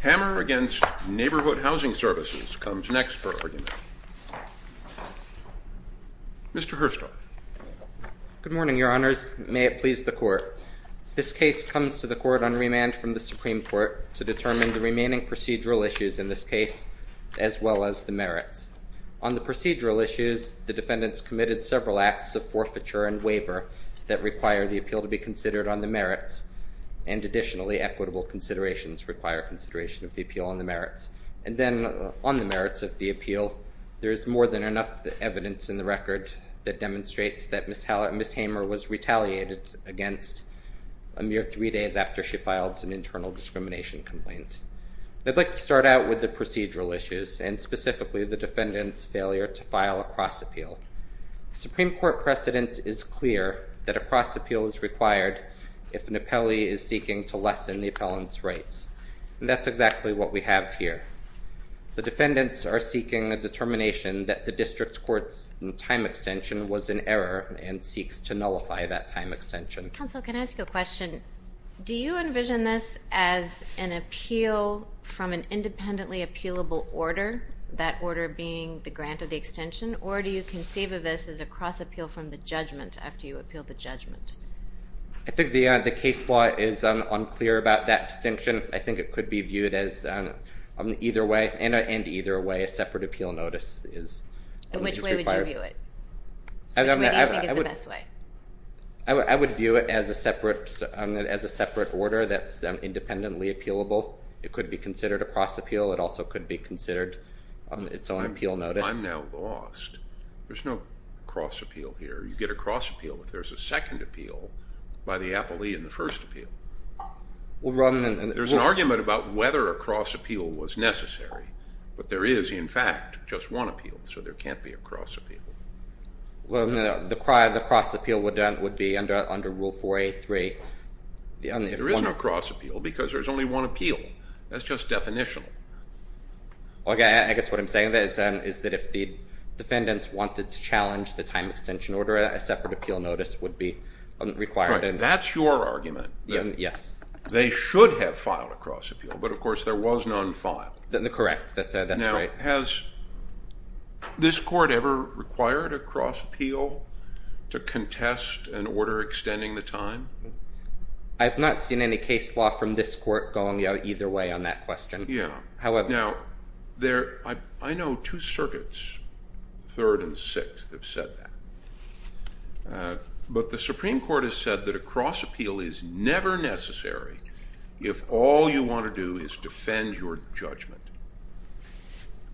Hamer v. Neighborhood Housing Services comes next for argument. Mr. Herstock. Good morning, Your Honors. May it please the Court. This case comes to the Court on remand from the Supreme Court to determine the remaining procedural issues in this case, as well as the merits. On the procedural issues, the defendants committed several acts of forfeiture and waiver that require the appeal to be considered on the merits. And additionally, equitable considerations require consideration of the appeal on the merits. And then, on the merits of the appeal, there is more than enough evidence in the record that demonstrates that Ms. Hamer was retaliated against a mere three days after she filed an internal discrimination complaint. I'd like to start out with the procedural issues, and specifically the defendant's failure to file a cross appeal. The Supreme Court precedent is clear that a cross appeal is required if an appellee is seeking to lessen the appellant's rights. That's exactly what we have here. The defendants are seeking a determination that the district court's time extension was in error and seeks to nullify that time extension. Counsel, can I ask you a question? Do you envision this as an appeal from an independently appealable order, that order being the grant of the extension? Or do you conceive of this as a cross appeal from the judgment after you appeal the judgment? I think the case law is unclear about that extension. I think it could be viewed as either way, and either way, a separate appeal notice is required. Which way would you view it? Which way do you think is the best way? I would view it as a separate order that's independently appealable. It could be considered a cross appeal. It also could be considered its own appeal notice. I'm now lost. There's no cross appeal here. You get a cross appeal if there's a second appeal by the appellee in the first appeal. There's an argument about whether a cross appeal was necessary, but there is, in fact, just one appeal, so there can't be a cross appeal. The cross appeal would be under Rule 4A.3. There is no cross appeal because there's only one appeal. That's just definitional. I guess what I'm saying is that if the defendants wanted to challenge the time extension order, a separate appeal notice would be required. That's your argument. Yes. They should have filed a cross appeal, but, of course, there was none filed. Correct. That's right. Now, has this court ever required a cross appeal to contest an order extending the time? I have not seen any case law from this court going either way on that question. Yeah. However— Now, I know two circuits, Third and Sixth, have said that. But the Supreme Court has said that a cross appeal is never necessary if all you want to do is defend your judgment.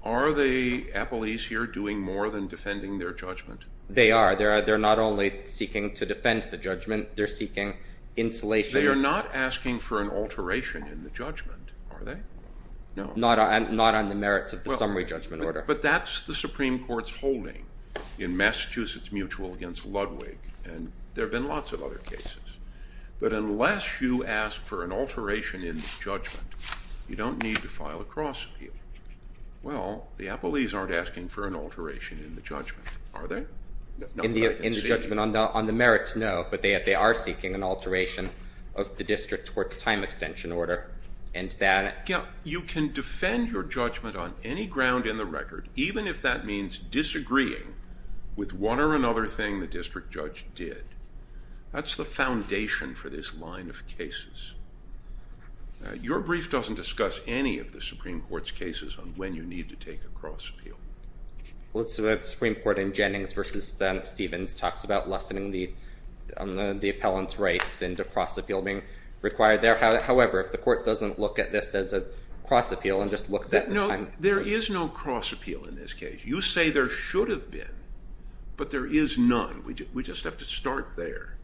Are the appellees here doing more than defending their judgment? They are. They're not only seeking to defend the judgment. They're seeking insulation. They are not asking for an alteration in the judgment, are they? No. Not on the merits of the summary judgment order. But that's the Supreme Court's holding in Massachusetts Mutual against Ludwig, and there have been lots of other cases. But unless you ask for an alteration in the judgment, you don't need to file a cross appeal. Well, the appellees aren't asking for an alteration in the judgment, are they? In the judgment on the merits, no, but they are seeking an alteration of the district's courts' time extension order, and that— You can defend your judgment on any ground in the record, even if that means disagreeing with one or another thing the district judge did. That's the foundation for this line of cases. Your brief doesn't discuss any of the Supreme Court's cases on when you need to take a cross appeal. Well, it's the Supreme Court in Jennings v. Stevens talks about lessening the appellant's rights and a cross appeal being required there. However, if the court doesn't look at this as a cross appeal and just looks at the time— No, there is no cross appeal in this case. You say there should have been, but there is none. We just have to start there.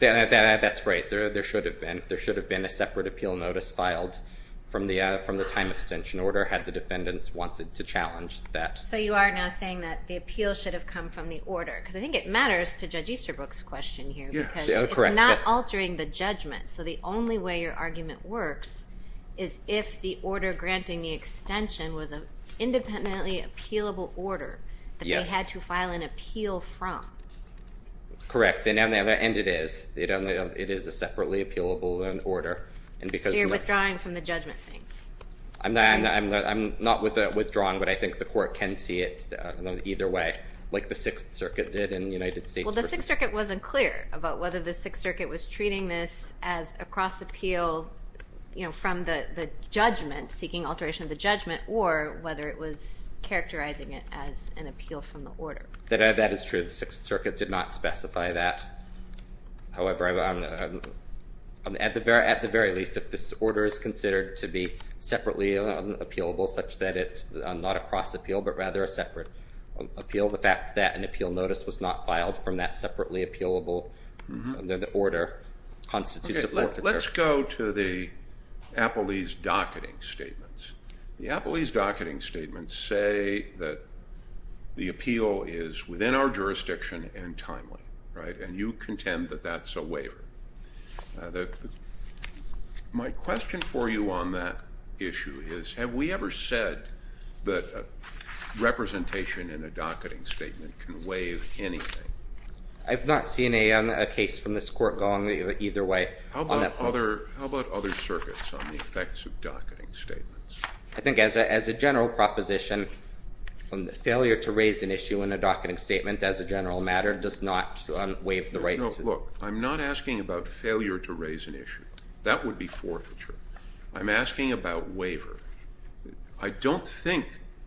That's right. There should have been. There should have been a separate appeal notice filed from the time extension order had the defendants wanted to challenge that. So you are now saying that the appeal should have come from the order? Because I think it matters to Judge Easterbrook's question here because it's not altering the judgment. So the only way your argument works is if the order granting the extension was an independently appealable order that they had to file an appeal from. Correct, and it is. It is a separately appealable order. So you're withdrawing from the judgment thing? I'm not withdrawing, but I think the court can see it either way, like the Sixth Circuit did in the United States. Well, the Sixth Circuit wasn't clear about whether the Sixth Circuit was treating this as a cross appeal from the judgment, seeking alteration of the judgment, or whether it was characterizing it as an appeal from the order. That is true. The Sixth Circuit did not specify that. However, at the very least, if this order is considered to be separately appealable such that it's not a cross appeal but rather a separate appeal, the fact that an appeal notice was not filed from that separately appealable order constitutes a forfeiture. Let's go to the Appellee's Docketing Statements. The Appellee's Docketing Statements say that the appeal is within our jurisdiction and timely, and you contend that that's a waiver. My question for you on that issue is, have we ever said that representation in a docketing statement can waive anything? I've not seen a case from this court going either way on that point. How about other circuits on the effects of docketing statements? I think as a general proposition, failure to raise an issue in a docketing statement as a general matter does not waive the right to do that. Look, I'm not asking about failure to raise an issue. That would be forfeiture. I'm asking about waiver. I don't think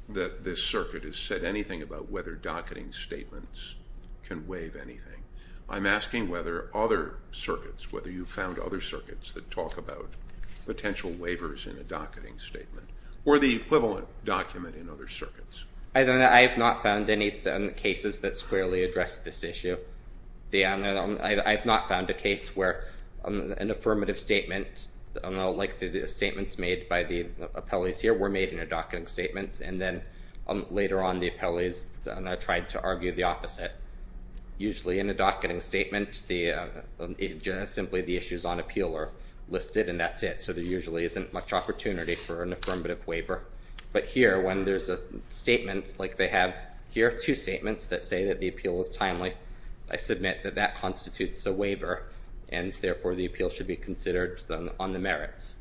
that this circuit has said anything about whether docketing statements can waive anything. I'm asking whether other circuits, whether you've found other circuits that talk about potential waivers in a docketing statement or the equivalent document in other circuits. I have not found any cases that squarely address this issue. I have not found a case where an affirmative statement, like the statements made by the appellees here, were made in a docketing statement, and then later on the appellees tried to argue the opposite. Usually in a docketing statement, simply the issues on appeal are listed, and that's it. So there usually isn't much opportunity for an affirmative waiver. But here, when there's a statement like they have here, two statements that say that the appeal was timely, I submit that that constitutes a waiver, and therefore the appeal should be considered on the merits.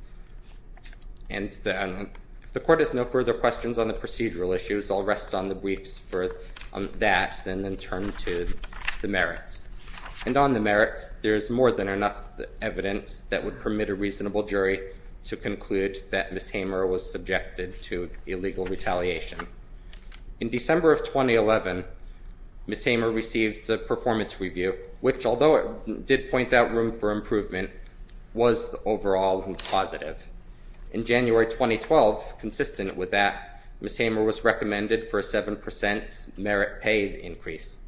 And if the court has no further questions on the procedural issues, I'll rest on the briefs for that and then turn to the merits. And on the merits, there's more than enough evidence that would permit a reasonable jury to conclude that Ms. Hamer was subjected to illegal retaliation. In December of 2011, Ms. Hamer received a performance review, which, although it did point out room for improvement, was overall positive. In January 2012, consistent with that, Ms. Hamer was recommended for a 7% merit pay increase.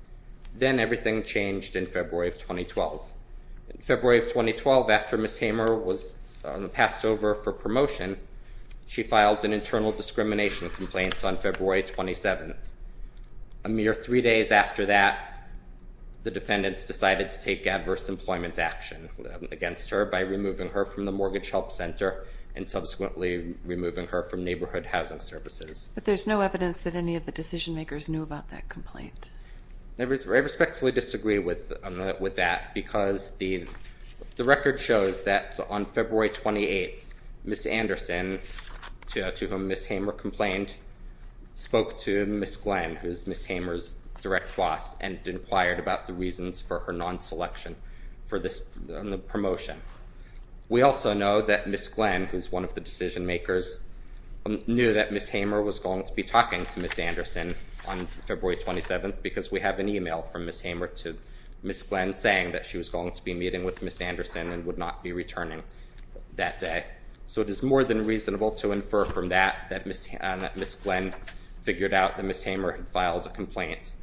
Then everything changed in February of 2012. In February of 2012, after Ms. Hamer was passed over for promotion, she filed an internal discrimination complaint on February 27th. A mere three days after that, the defendants decided to take adverse employment action against her by removing her from the Mortgage Help Center and subsequently removing her from Neighborhood Housing Services. But there's no evidence that any of the decision makers knew about that complaint. I respectfully disagree with that because the record shows that on February 28th, Ms. Anderson, to whom Ms. Hamer complained, spoke to Ms. Glenn, who is Ms. Hamer's direct boss, and inquired about the reasons for her non-selection for this promotion. We also know that Ms. Glenn, who's one of the decision makers, knew that Ms. Hamer was going to be talking to Ms. Anderson on February 27th because we have an email from Ms. Hamer to Ms. Glenn saying that she was going to be meeting with Ms. Anderson and would not be returning that day. So it is more than reasonable to infer from that that Ms. Glenn figured out that Ms. Hamer had filed a complaint.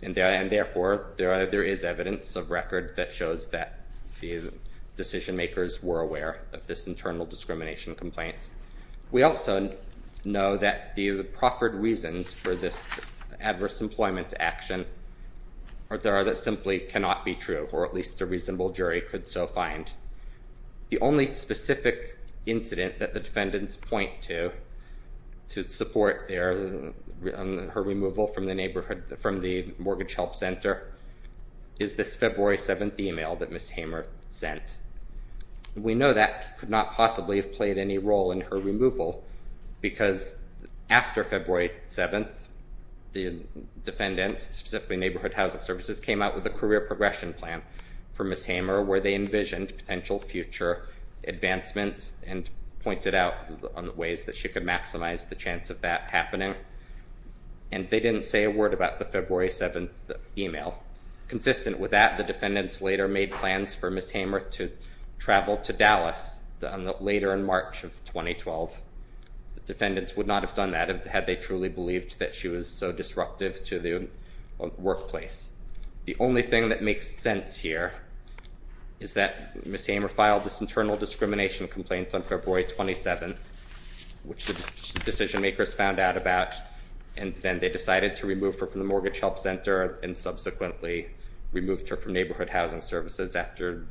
And therefore, there is evidence of record that shows that the decision makers were aware of this internal discrimination complaint. We also know that the proffered reasons for this adverse employment action are there that simply cannot be true, or at least a reasonable jury could so find. The only specific incident that the defendants point to to support her removal from the Mortgage Help Center is this February 7th email that Ms. Hamer sent. We know that could not possibly have played any role in her removal because after February 7th, the defendants, specifically Neighborhood Housing Services, came out with a career progression plan for Ms. Hamer where they envisioned potential future advancements and pointed out ways that she could maximize the chance of that happening. And they didn't say a word about the February 7th email. Consistent with that, the defendants later made plans for Ms. Hamer to travel to Dallas later in March of 2012. The defendants would not have done that had they truly believed that she was so disruptive to the workplace. The only thing that makes sense here is that Ms. Hamer filed this internal discrimination complaint on February 27th, which the decision makers found out about. And then they decided to remove her from the Mortgage Help Center and subsequently removed her from Neighborhood Housing Services after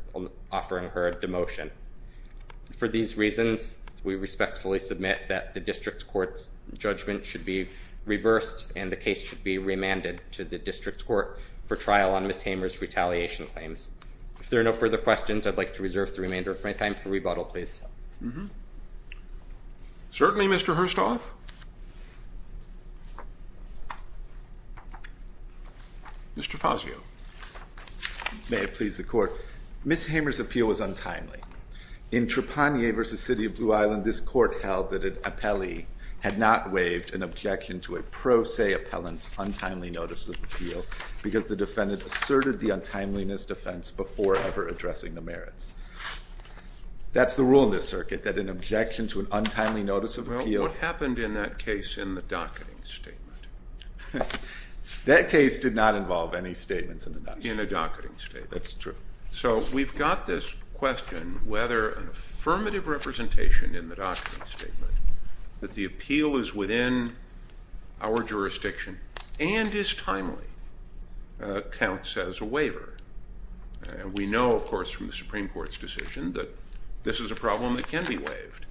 offering her a demotion. For these reasons, we respectfully submit that the District Court's judgment should be reversed and the case should be remanded to the District Court for trial on Ms. Hamer's retaliation claims. If there are no further questions, I'd like to reserve the remainder of my time for rebuttal, please. Certainly, Mr. Herstoff. Mr. Fazio. May it please the Court. Ms. Hamer's appeal was untimely. In Trapanier v. City of Blue Island, this Court held that an appellee had not waived an objection to a pro se appellant's untimely notice of appeal because the defendant asserted the untimeliness defense before ever addressing the merits. That's the rule in this circuit, that an objection to an untimely notice of appeal... Well, what happened in that case in the docketing statement? That case did not involve any statements in the docketing statement. In the docketing statement. That's true. So we've got this question whether an affirmative representation in the docketing statement, that the appeal is within our jurisdiction and is timely, counts as a waiver. And we know, of course, from the Supreme Court's decision that this is a problem that can be waived.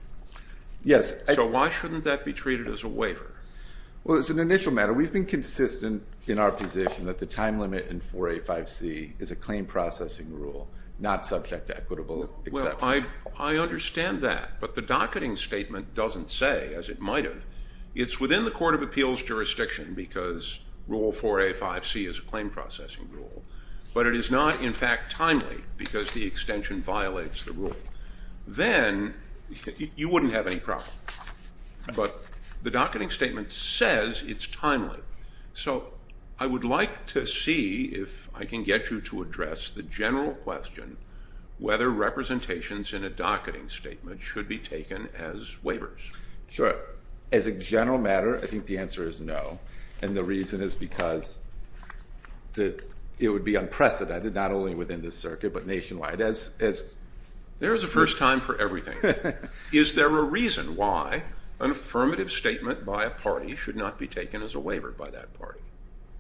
Yes. So why shouldn't that be treated as a waiver? Well, as an initial matter, we've been consistent in our position that the time limit in 4A.5c is a claim processing rule, not subject to equitable acceptance. Well, I understand that. But the docketing statement doesn't say, as it might have, it's within the court of appeals jurisdiction because Rule 4A.5c is a claim processing rule. But it is not, in fact, timely because the extension violates the rule. Then you wouldn't have any problem. But the docketing statement says it's timely. So I would like to see if I can get you to address the general question whether representations in a docketing statement should be taken as waivers. Sure. As a general matter, I think the answer is no. And the reason is because it would be unprecedented, not only within this circuit, but nationwide. There is a first time for everything. Is there a reason why an affirmative statement by a party should not be taken as a waiver by that party?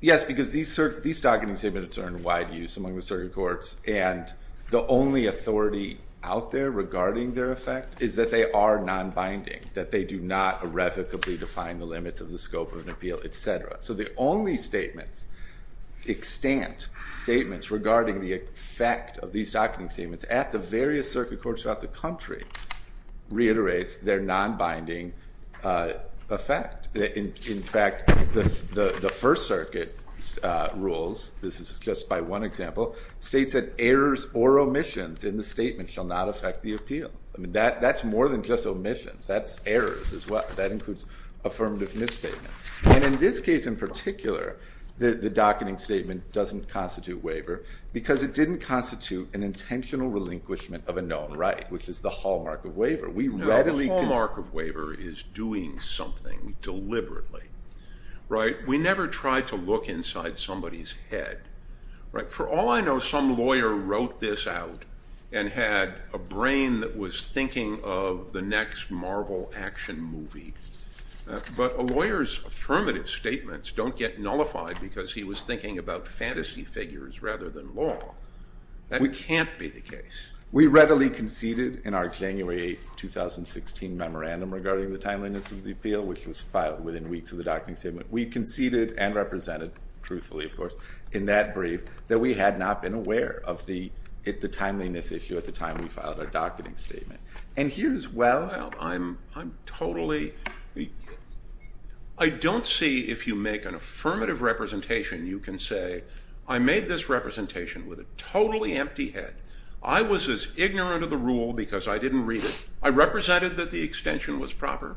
Yes, because these docketing statements are in wide use among the circuit courts. And the only authority out there regarding their effect is that they are nonbinding, that they do not irrevocably define the limits of the scope of an appeal, etc. So the only statements, extant statements, regarding the effect of these docketing statements at the various circuit courts throughout the country reiterates their nonbinding effect. In fact, the First Circuit rules, this is just by one example, states that errors or omissions in the statement shall not affect the appeal. That's more than just omissions. That's errors as well. That includes affirmative misstatements. And in this case in particular, the docketing statement doesn't constitute waiver because it didn't constitute an intentional relinquishment of a known right, which is the hallmark of waiver. Now, the hallmark of waiver is doing something deliberately. We never try to look inside somebody's head. For all I know, some lawyer wrote this out and had a brain that was thinking of the next Marvel action movie. But a lawyer's affirmative statements don't get nullified because he was thinking about fantasy figures rather than law. That can't be the case. We readily conceded in our January 8, 2016, memorandum regarding the timeliness of the appeal, which was filed within weeks of the docketing statement. We conceded and represented, truthfully, of course, in that brief that we had not been aware of the timeliness issue at the time we filed our docketing statement. I don't see if you make an affirmative representation, you can say, I made this representation with a totally empty head. I was as ignorant of the rule because I didn't read it. I represented that the extension was proper,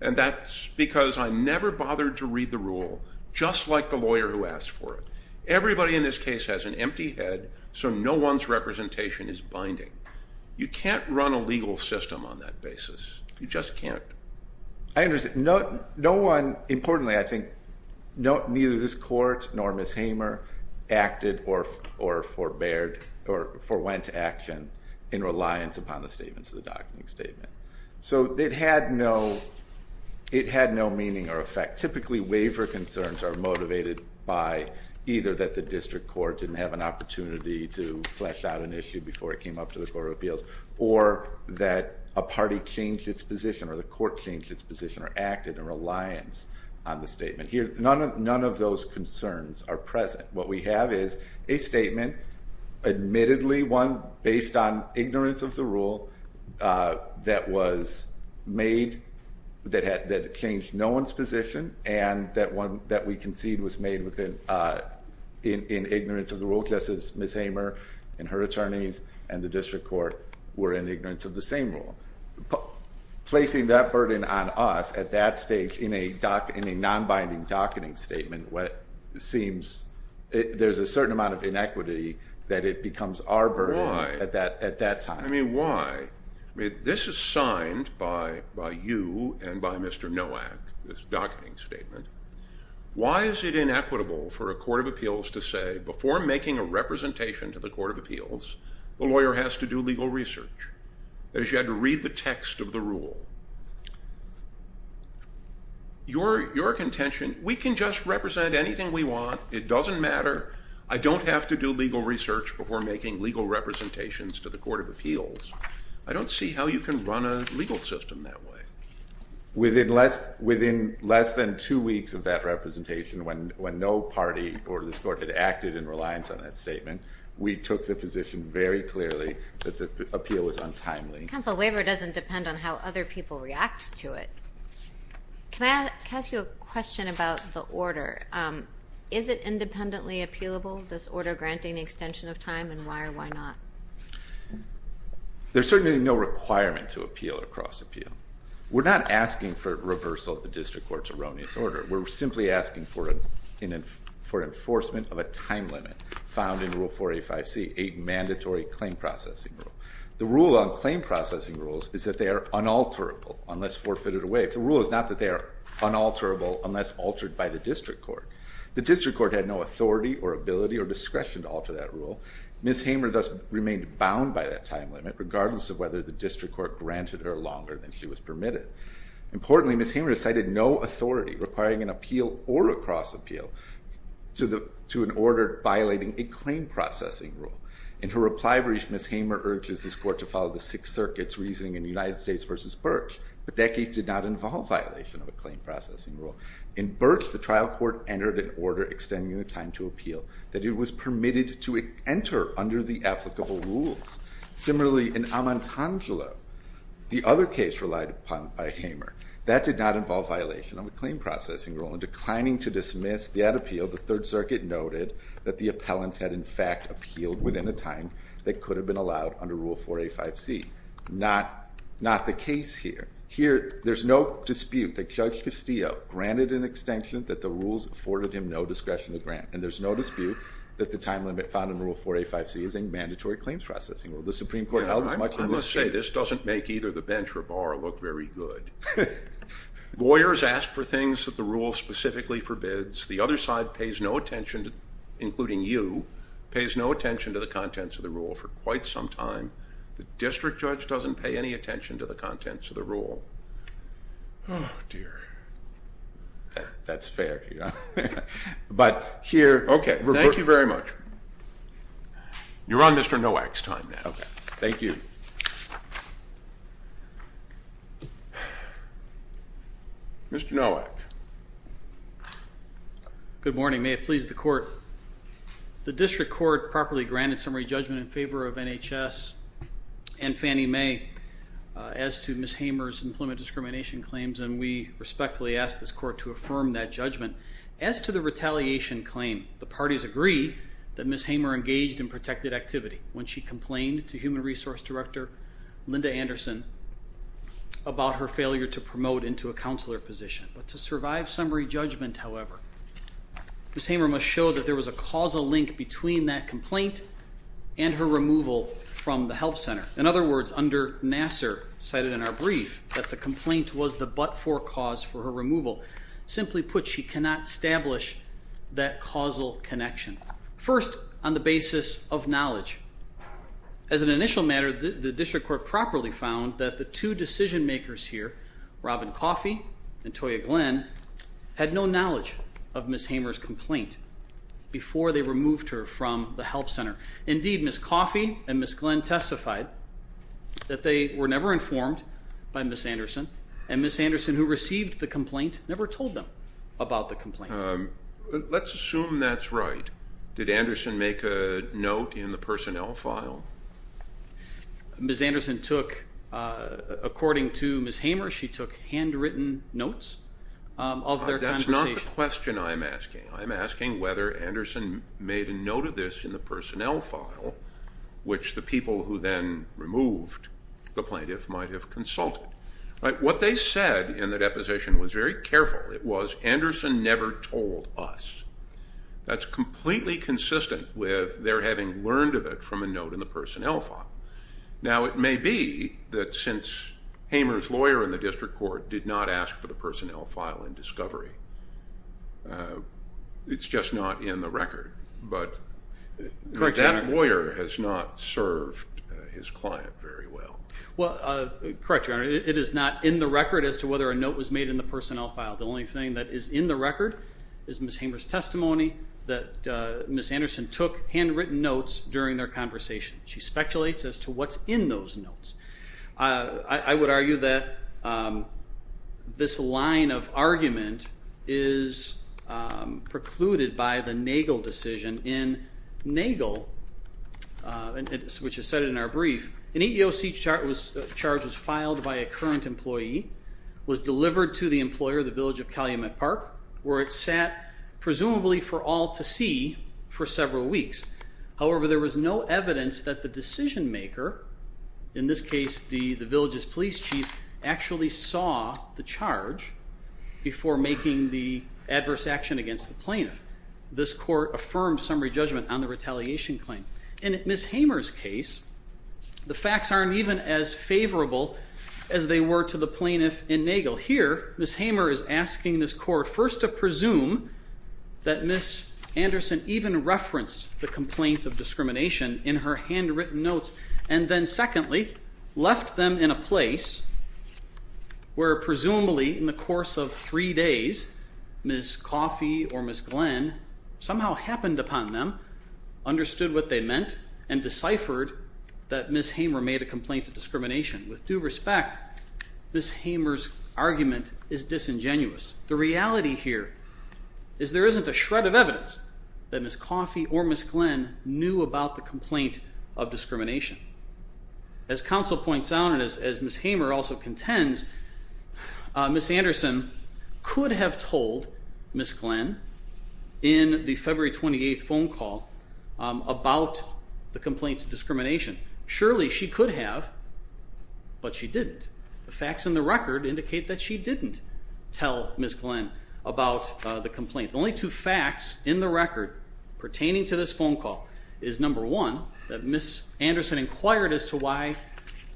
and that's because I never bothered to read the rule, just like the lawyer who asked for it. Everybody in this case has an empty head, so no one's representation is binding. You can't run a legal system on that basis. You just can't. I understand. Importantly, I think neither this court nor Ms. Hamer acted or forewent action in reliance upon the statements of the docketing statement. So it had no meaning or effect. Typically, waiver concerns are motivated by either that the district court didn't have an opportunity to flesh out an issue before it came up to the court of appeals, or that a party changed its position or the court changed its position or acted in reliance on the statement. None of those concerns are present. What we have is a statement, admittedly one based on ignorance of the rule, that was made, that changed no one's position, and that we concede was made in ignorance of the rule, just as Ms. Hamer and her attorneys and the district court were in ignorance of the same rule. Placing that burden on us at that stage in a non-binding docketing statement, there's a certain amount of inequity that it becomes our burden at that time. Why? This is signed by you and by Mr. Nowak, this docketing statement. Why is it inequitable for a court of appeals to say, before making a representation to the court of appeals, the lawyer has to do legal research? That is, you had to read the text of the rule. Your contention, we can just represent anything we want, it doesn't matter, I don't have to do legal research before making legal representations to the court of appeals. I don't see how you can run a legal system that way. Within less than two weeks of that representation, when no party or this court had acted in reliance on that statement, we took the position very clearly that the appeal was untimely. Counsel, waiver doesn't depend on how other people react to it. Can I ask you a question about the order? Is it independently appealable, this order granting the extension of time, and why or why not? There's certainly no requirement to appeal or cross-appeal. We're not asking for reversal of the district court's erroneous order. We're simply asking for enforcement of a time limit found in Rule 485C, a mandatory claim processing rule. The rule on claim processing rules is that they are unalterable unless forfeited away. The rule is not that they are unalterable unless altered by the district court. The district court had no authority or ability or discretion to alter that rule. Ms. Hamer thus remained bound by that time limit, regardless of whether the district court granted her longer than she was permitted. Importantly, Ms. Hamer cited no authority requiring an appeal or a cross-appeal to an order violating a claim processing rule. In her reply brief, Ms. Hamer urges this court to follow the Sixth Circuit's reasoning in United States v. Birch, but that case did not involve violation of a claim processing rule. In Birch, the trial court entered an order extending the time to appeal that it was permitted to enter under the applicable rules. Similarly, in Amantangelo, the other case relied upon by Hamer. That did not involve violation of a claim processing rule, and declining to dismiss that appeal, the Third Circuit noted that the appellants had in fact appealed within a time that could have been allowed under Rule 485C. Not the case here. Here, there's no dispute that Judge Castillo granted an extension that the rules afforded him no discretion to grant, and there's no dispute that the time limit found in Rule 485C is a mandatory claims processing rule. The Supreme Court held as much in this case. I must say, this doesn't make either the bench or bar look very good. Lawyers ask for things that the rule specifically forbids. The other side pays no attention, including you, pays no attention to the contents of the rule for quite some time. The district judge doesn't pay any attention to the contents of the rule. Oh, dear. That's fair. But here. Okay. Thank you very much. You're on Mr. Nowak's time now. Okay. Thank you. Mr. Nowak. Good morning. May it please the Court. The district court properly granted summary judgment in favor of NHS and Fannie Mae as to Ms. Hamer's employment discrimination claims, and we respectfully ask this Court to affirm that judgment. As to the retaliation claim, the parties agree that Ms. Hamer engaged in protected activity when she complained to Human Resource Director Linda Anderson about her failure to promote into a counselor position. But to survive summary judgment, however, Ms. Hamer must show that there was a causal link between that complaint and her removal from the help center. In other words, under Nassar, cited in our brief, that the complaint was the but-for cause for her removal. Simply put, she cannot establish that causal connection. First, on the basis of knowledge. As an initial matter, the district court properly found that the two decision makers here, Robin Coffey and Toya Glenn, had no knowledge of Ms. Hamer's complaint before they removed her from the help center. Indeed, Ms. Coffey and Ms. Glenn testified that they were never informed by Ms. Anderson, and Ms. Anderson, who received the complaint, never told them about the complaint. Let's assume that's right. Did Anderson make a note in the personnel file? Ms. Anderson took, according to Ms. Hamer, she took handwritten notes of their conversation. That's not the question I'm asking. I'm asking whether Anderson made a note of this in the personnel file, which the people who then removed the plaintiff might have consulted. What they said in the deposition was very careful. It was, Anderson never told us. That's completely consistent with their having learned of it from a note in the personnel file. Now, it may be that since Hamer's lawyer in the district court did not ask for the personnel file in discovery, it's just not in the record, but that lawyer has not served his client very well. Well, correct, Your Honor. It is not in the record as to whether a note was made in the personnel file. The only thing that is in the record is Ms. Hamer's testimony that Ms. Anderson took handwritten notes during their conversation. She speculates as to what's in those notes. I would argue that this line of argument is precluded by the Nagel decision. In Nagel, which is cited in our brief, an EEOC charge was filed by a current employee, was delivered to the employer, the village of Calumet Park, where it sat presumably for all to see for several weeks. However, there was no evidence that the decision maker, in this case the village's police chief, actually saw the charge before making the adverse action against the plaintiff. This court affirmed summary judgment on the retaliation claim. In Ms. Hamer's case, the facts aren't even as favorable as they were to the plaintiff in Nagel. Here, Ms. Hamer is asking this court first to presume that Ms. Anderson even referenced the complaint of discrimination in her handwritten notes, and then secondly, left them in a place where presumably in the course of three days, Ms. Coffey or Ms. Glenn somehow happened upon them, understood what they meant, and deciphered that Ms. Hamer made a complaint of discrimination. With due respect, Ms. Hamer's argument is disingenuous. The reality here is there isn't a shred of evidence that Ms. Coffey or Ms. Glenn knew about the complaint of discrimination. As counsel points out, and as Ms. Hamer also contends, Ms. Anderson could have told Ms. Glenn in the February 28th phone call about the complaint of discrimination. Surely she could have, but she didn't. The facts in the record indicate that she didn't tell Ms. Glenn about the complaint. The only two facts in the record pertaining to this phone call is number one, that Ms. Anderson inquired as to why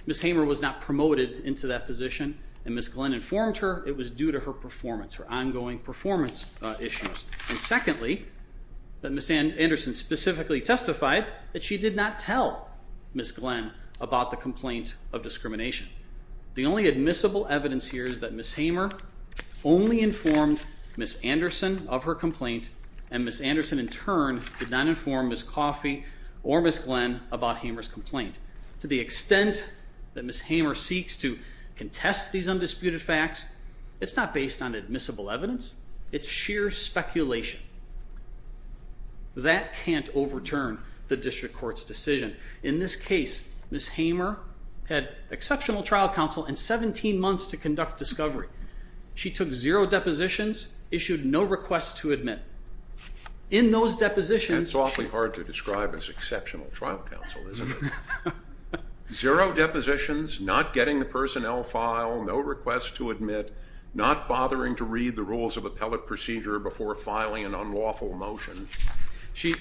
Ms. Hamer was not promoted into that position, and Ms. Glenn informed her it was due to her performance, her ongoing performance issues. And secondly, that Ms. Anderson specifically testified that she did not tell Ms. Glenn about the complaint of discrimination. The only admissible evidence here is that Ms. Hamer only informed Ms. Anderson of her complaint, and Ms. Anderson in turn did not inform Ms. Coffey or Ms. Glenn about Hamer's complaint. To the extent that Ms. Hamer seeks to contest these undisputed facts, it's not based on admissible evidence. It's sheer speculation. That can't overturn the district court's decision. In this case, Ms. Hamer had exceptional trial counsel and 17 months to conduct discovery. She took zero depositions, issued no requests to admit. In those depositions, she- That's awfully hard to describe as exceptional trial counsel, isn't it? Zero depositions, not getting the personnel file, no requests to admit, not bothering to read the rules of appellate procedure before filing an unlawful motion. She-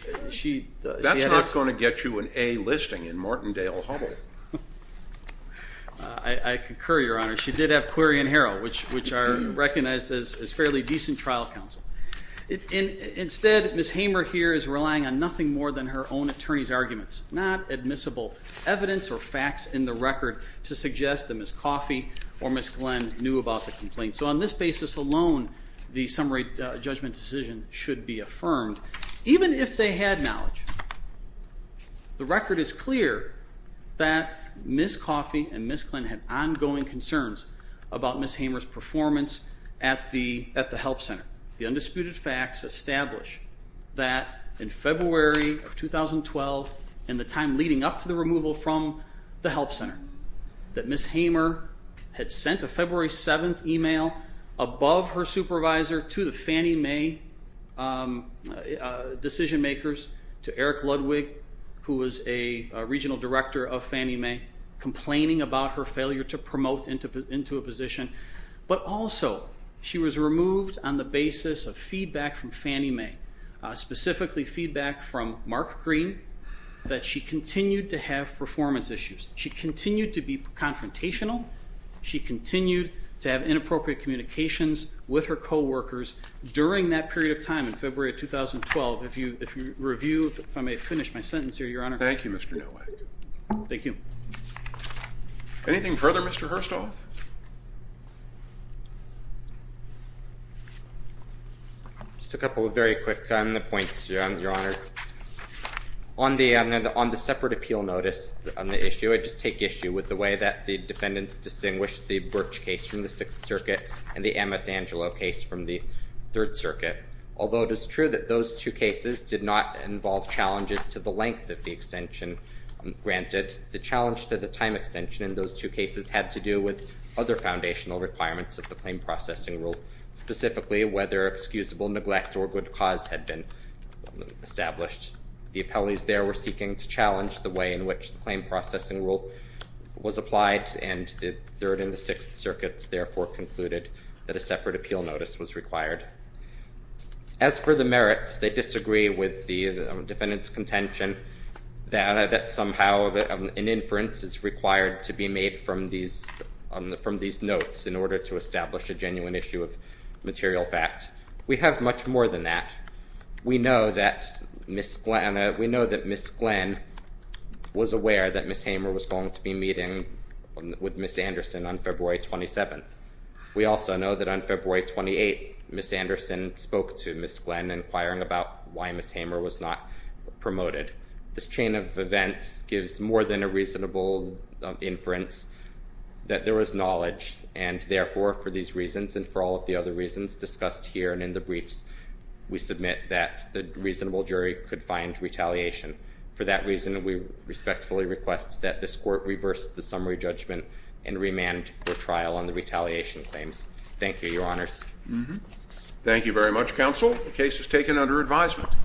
That's not going to get you an A listing in Martindale-Hubbell. I concur, Your Honor. She did have query and harrow, which are recognized as fairly decent trial counsel. Instead, Ms. Hamer here is relying on nothing more than her own attorney's arguments, not admissible evidence or facts in the record to suggest that Ms. Coffey or Ms. Glenn knew about the complaint. So on this basis alone, the summary judgment decision should be affirmed. Even if they had knowledge, the record is clear that Ms. Coffey and Ms. Glenn had ongoing concerns about Ms. Hamer's performance at the help center. The undisputed facts establish that in February of 2012, in the time leading up to the removal from the help center, that Ms. Hamer had sent a February 7th email above her supervisor to the Fannie Mae decision makers, to Eric Ludwig, who was a regional director of Fannie Mae, complaining about her failure to promote into a position. But also, she was removed on the basis of feedback from Fannie Mae, specifically feedback from Mark Green, that she continued to have performance issues. She continued to be confrontational. She continued to have inappropriate communications with her coworkers during that period of time in February of 2012. If you review, if I may finish my sentence here, Your Honor. Thank you, Mr. Nowak. Thank you. Anything further, Mr. Herstoff? Just a couple of very quick points, Your Honors. On the separate appeal notice on the issue, I just take issue with the way that the defendants distinguished the Birch case from the Sixth Circuit and the Amatangelo case from the Third Circuit. Although it is true that those two cases did not involve challenges to the length of the extension granted, the challenge to the time extension in those two cases had to do with other foundational requirements of the claim processing rule, specifically whether excusable neglect or good cause had been established. The appellees there were seeking to challenge the way in which the claim processing rule was applied, and the Third and the Sixth Circuits, therefore, concluded that a separate appeal notice was required. As for the merits, they disagree with the defendant's contention that somehow an inference is required to be made from these notes in order to establish a genuine issue of material fact. We have much more than that. We know that Ms. Glenn was aware that Ms. Hamer was going to be meeting with Ms. Anderson on February 27th. We also know that on February 28th, Ms. Anderson spoke to Ms. Glenn inquiring about why Ms. Hamer was not promoted. This chain of events gives more than a reasonable inference that there was knowledge, and therefore, for these reasons and for all of the other reasons discussed here and in the briefs, we submit that the reasonable jury could find retaliation. For that reason, we respectfully request that this court reverse the summary judgment and remand for trial on the retaliation claims. Thank you, Your Honors. Thank you very much, Counsel. The case is taken under advisement.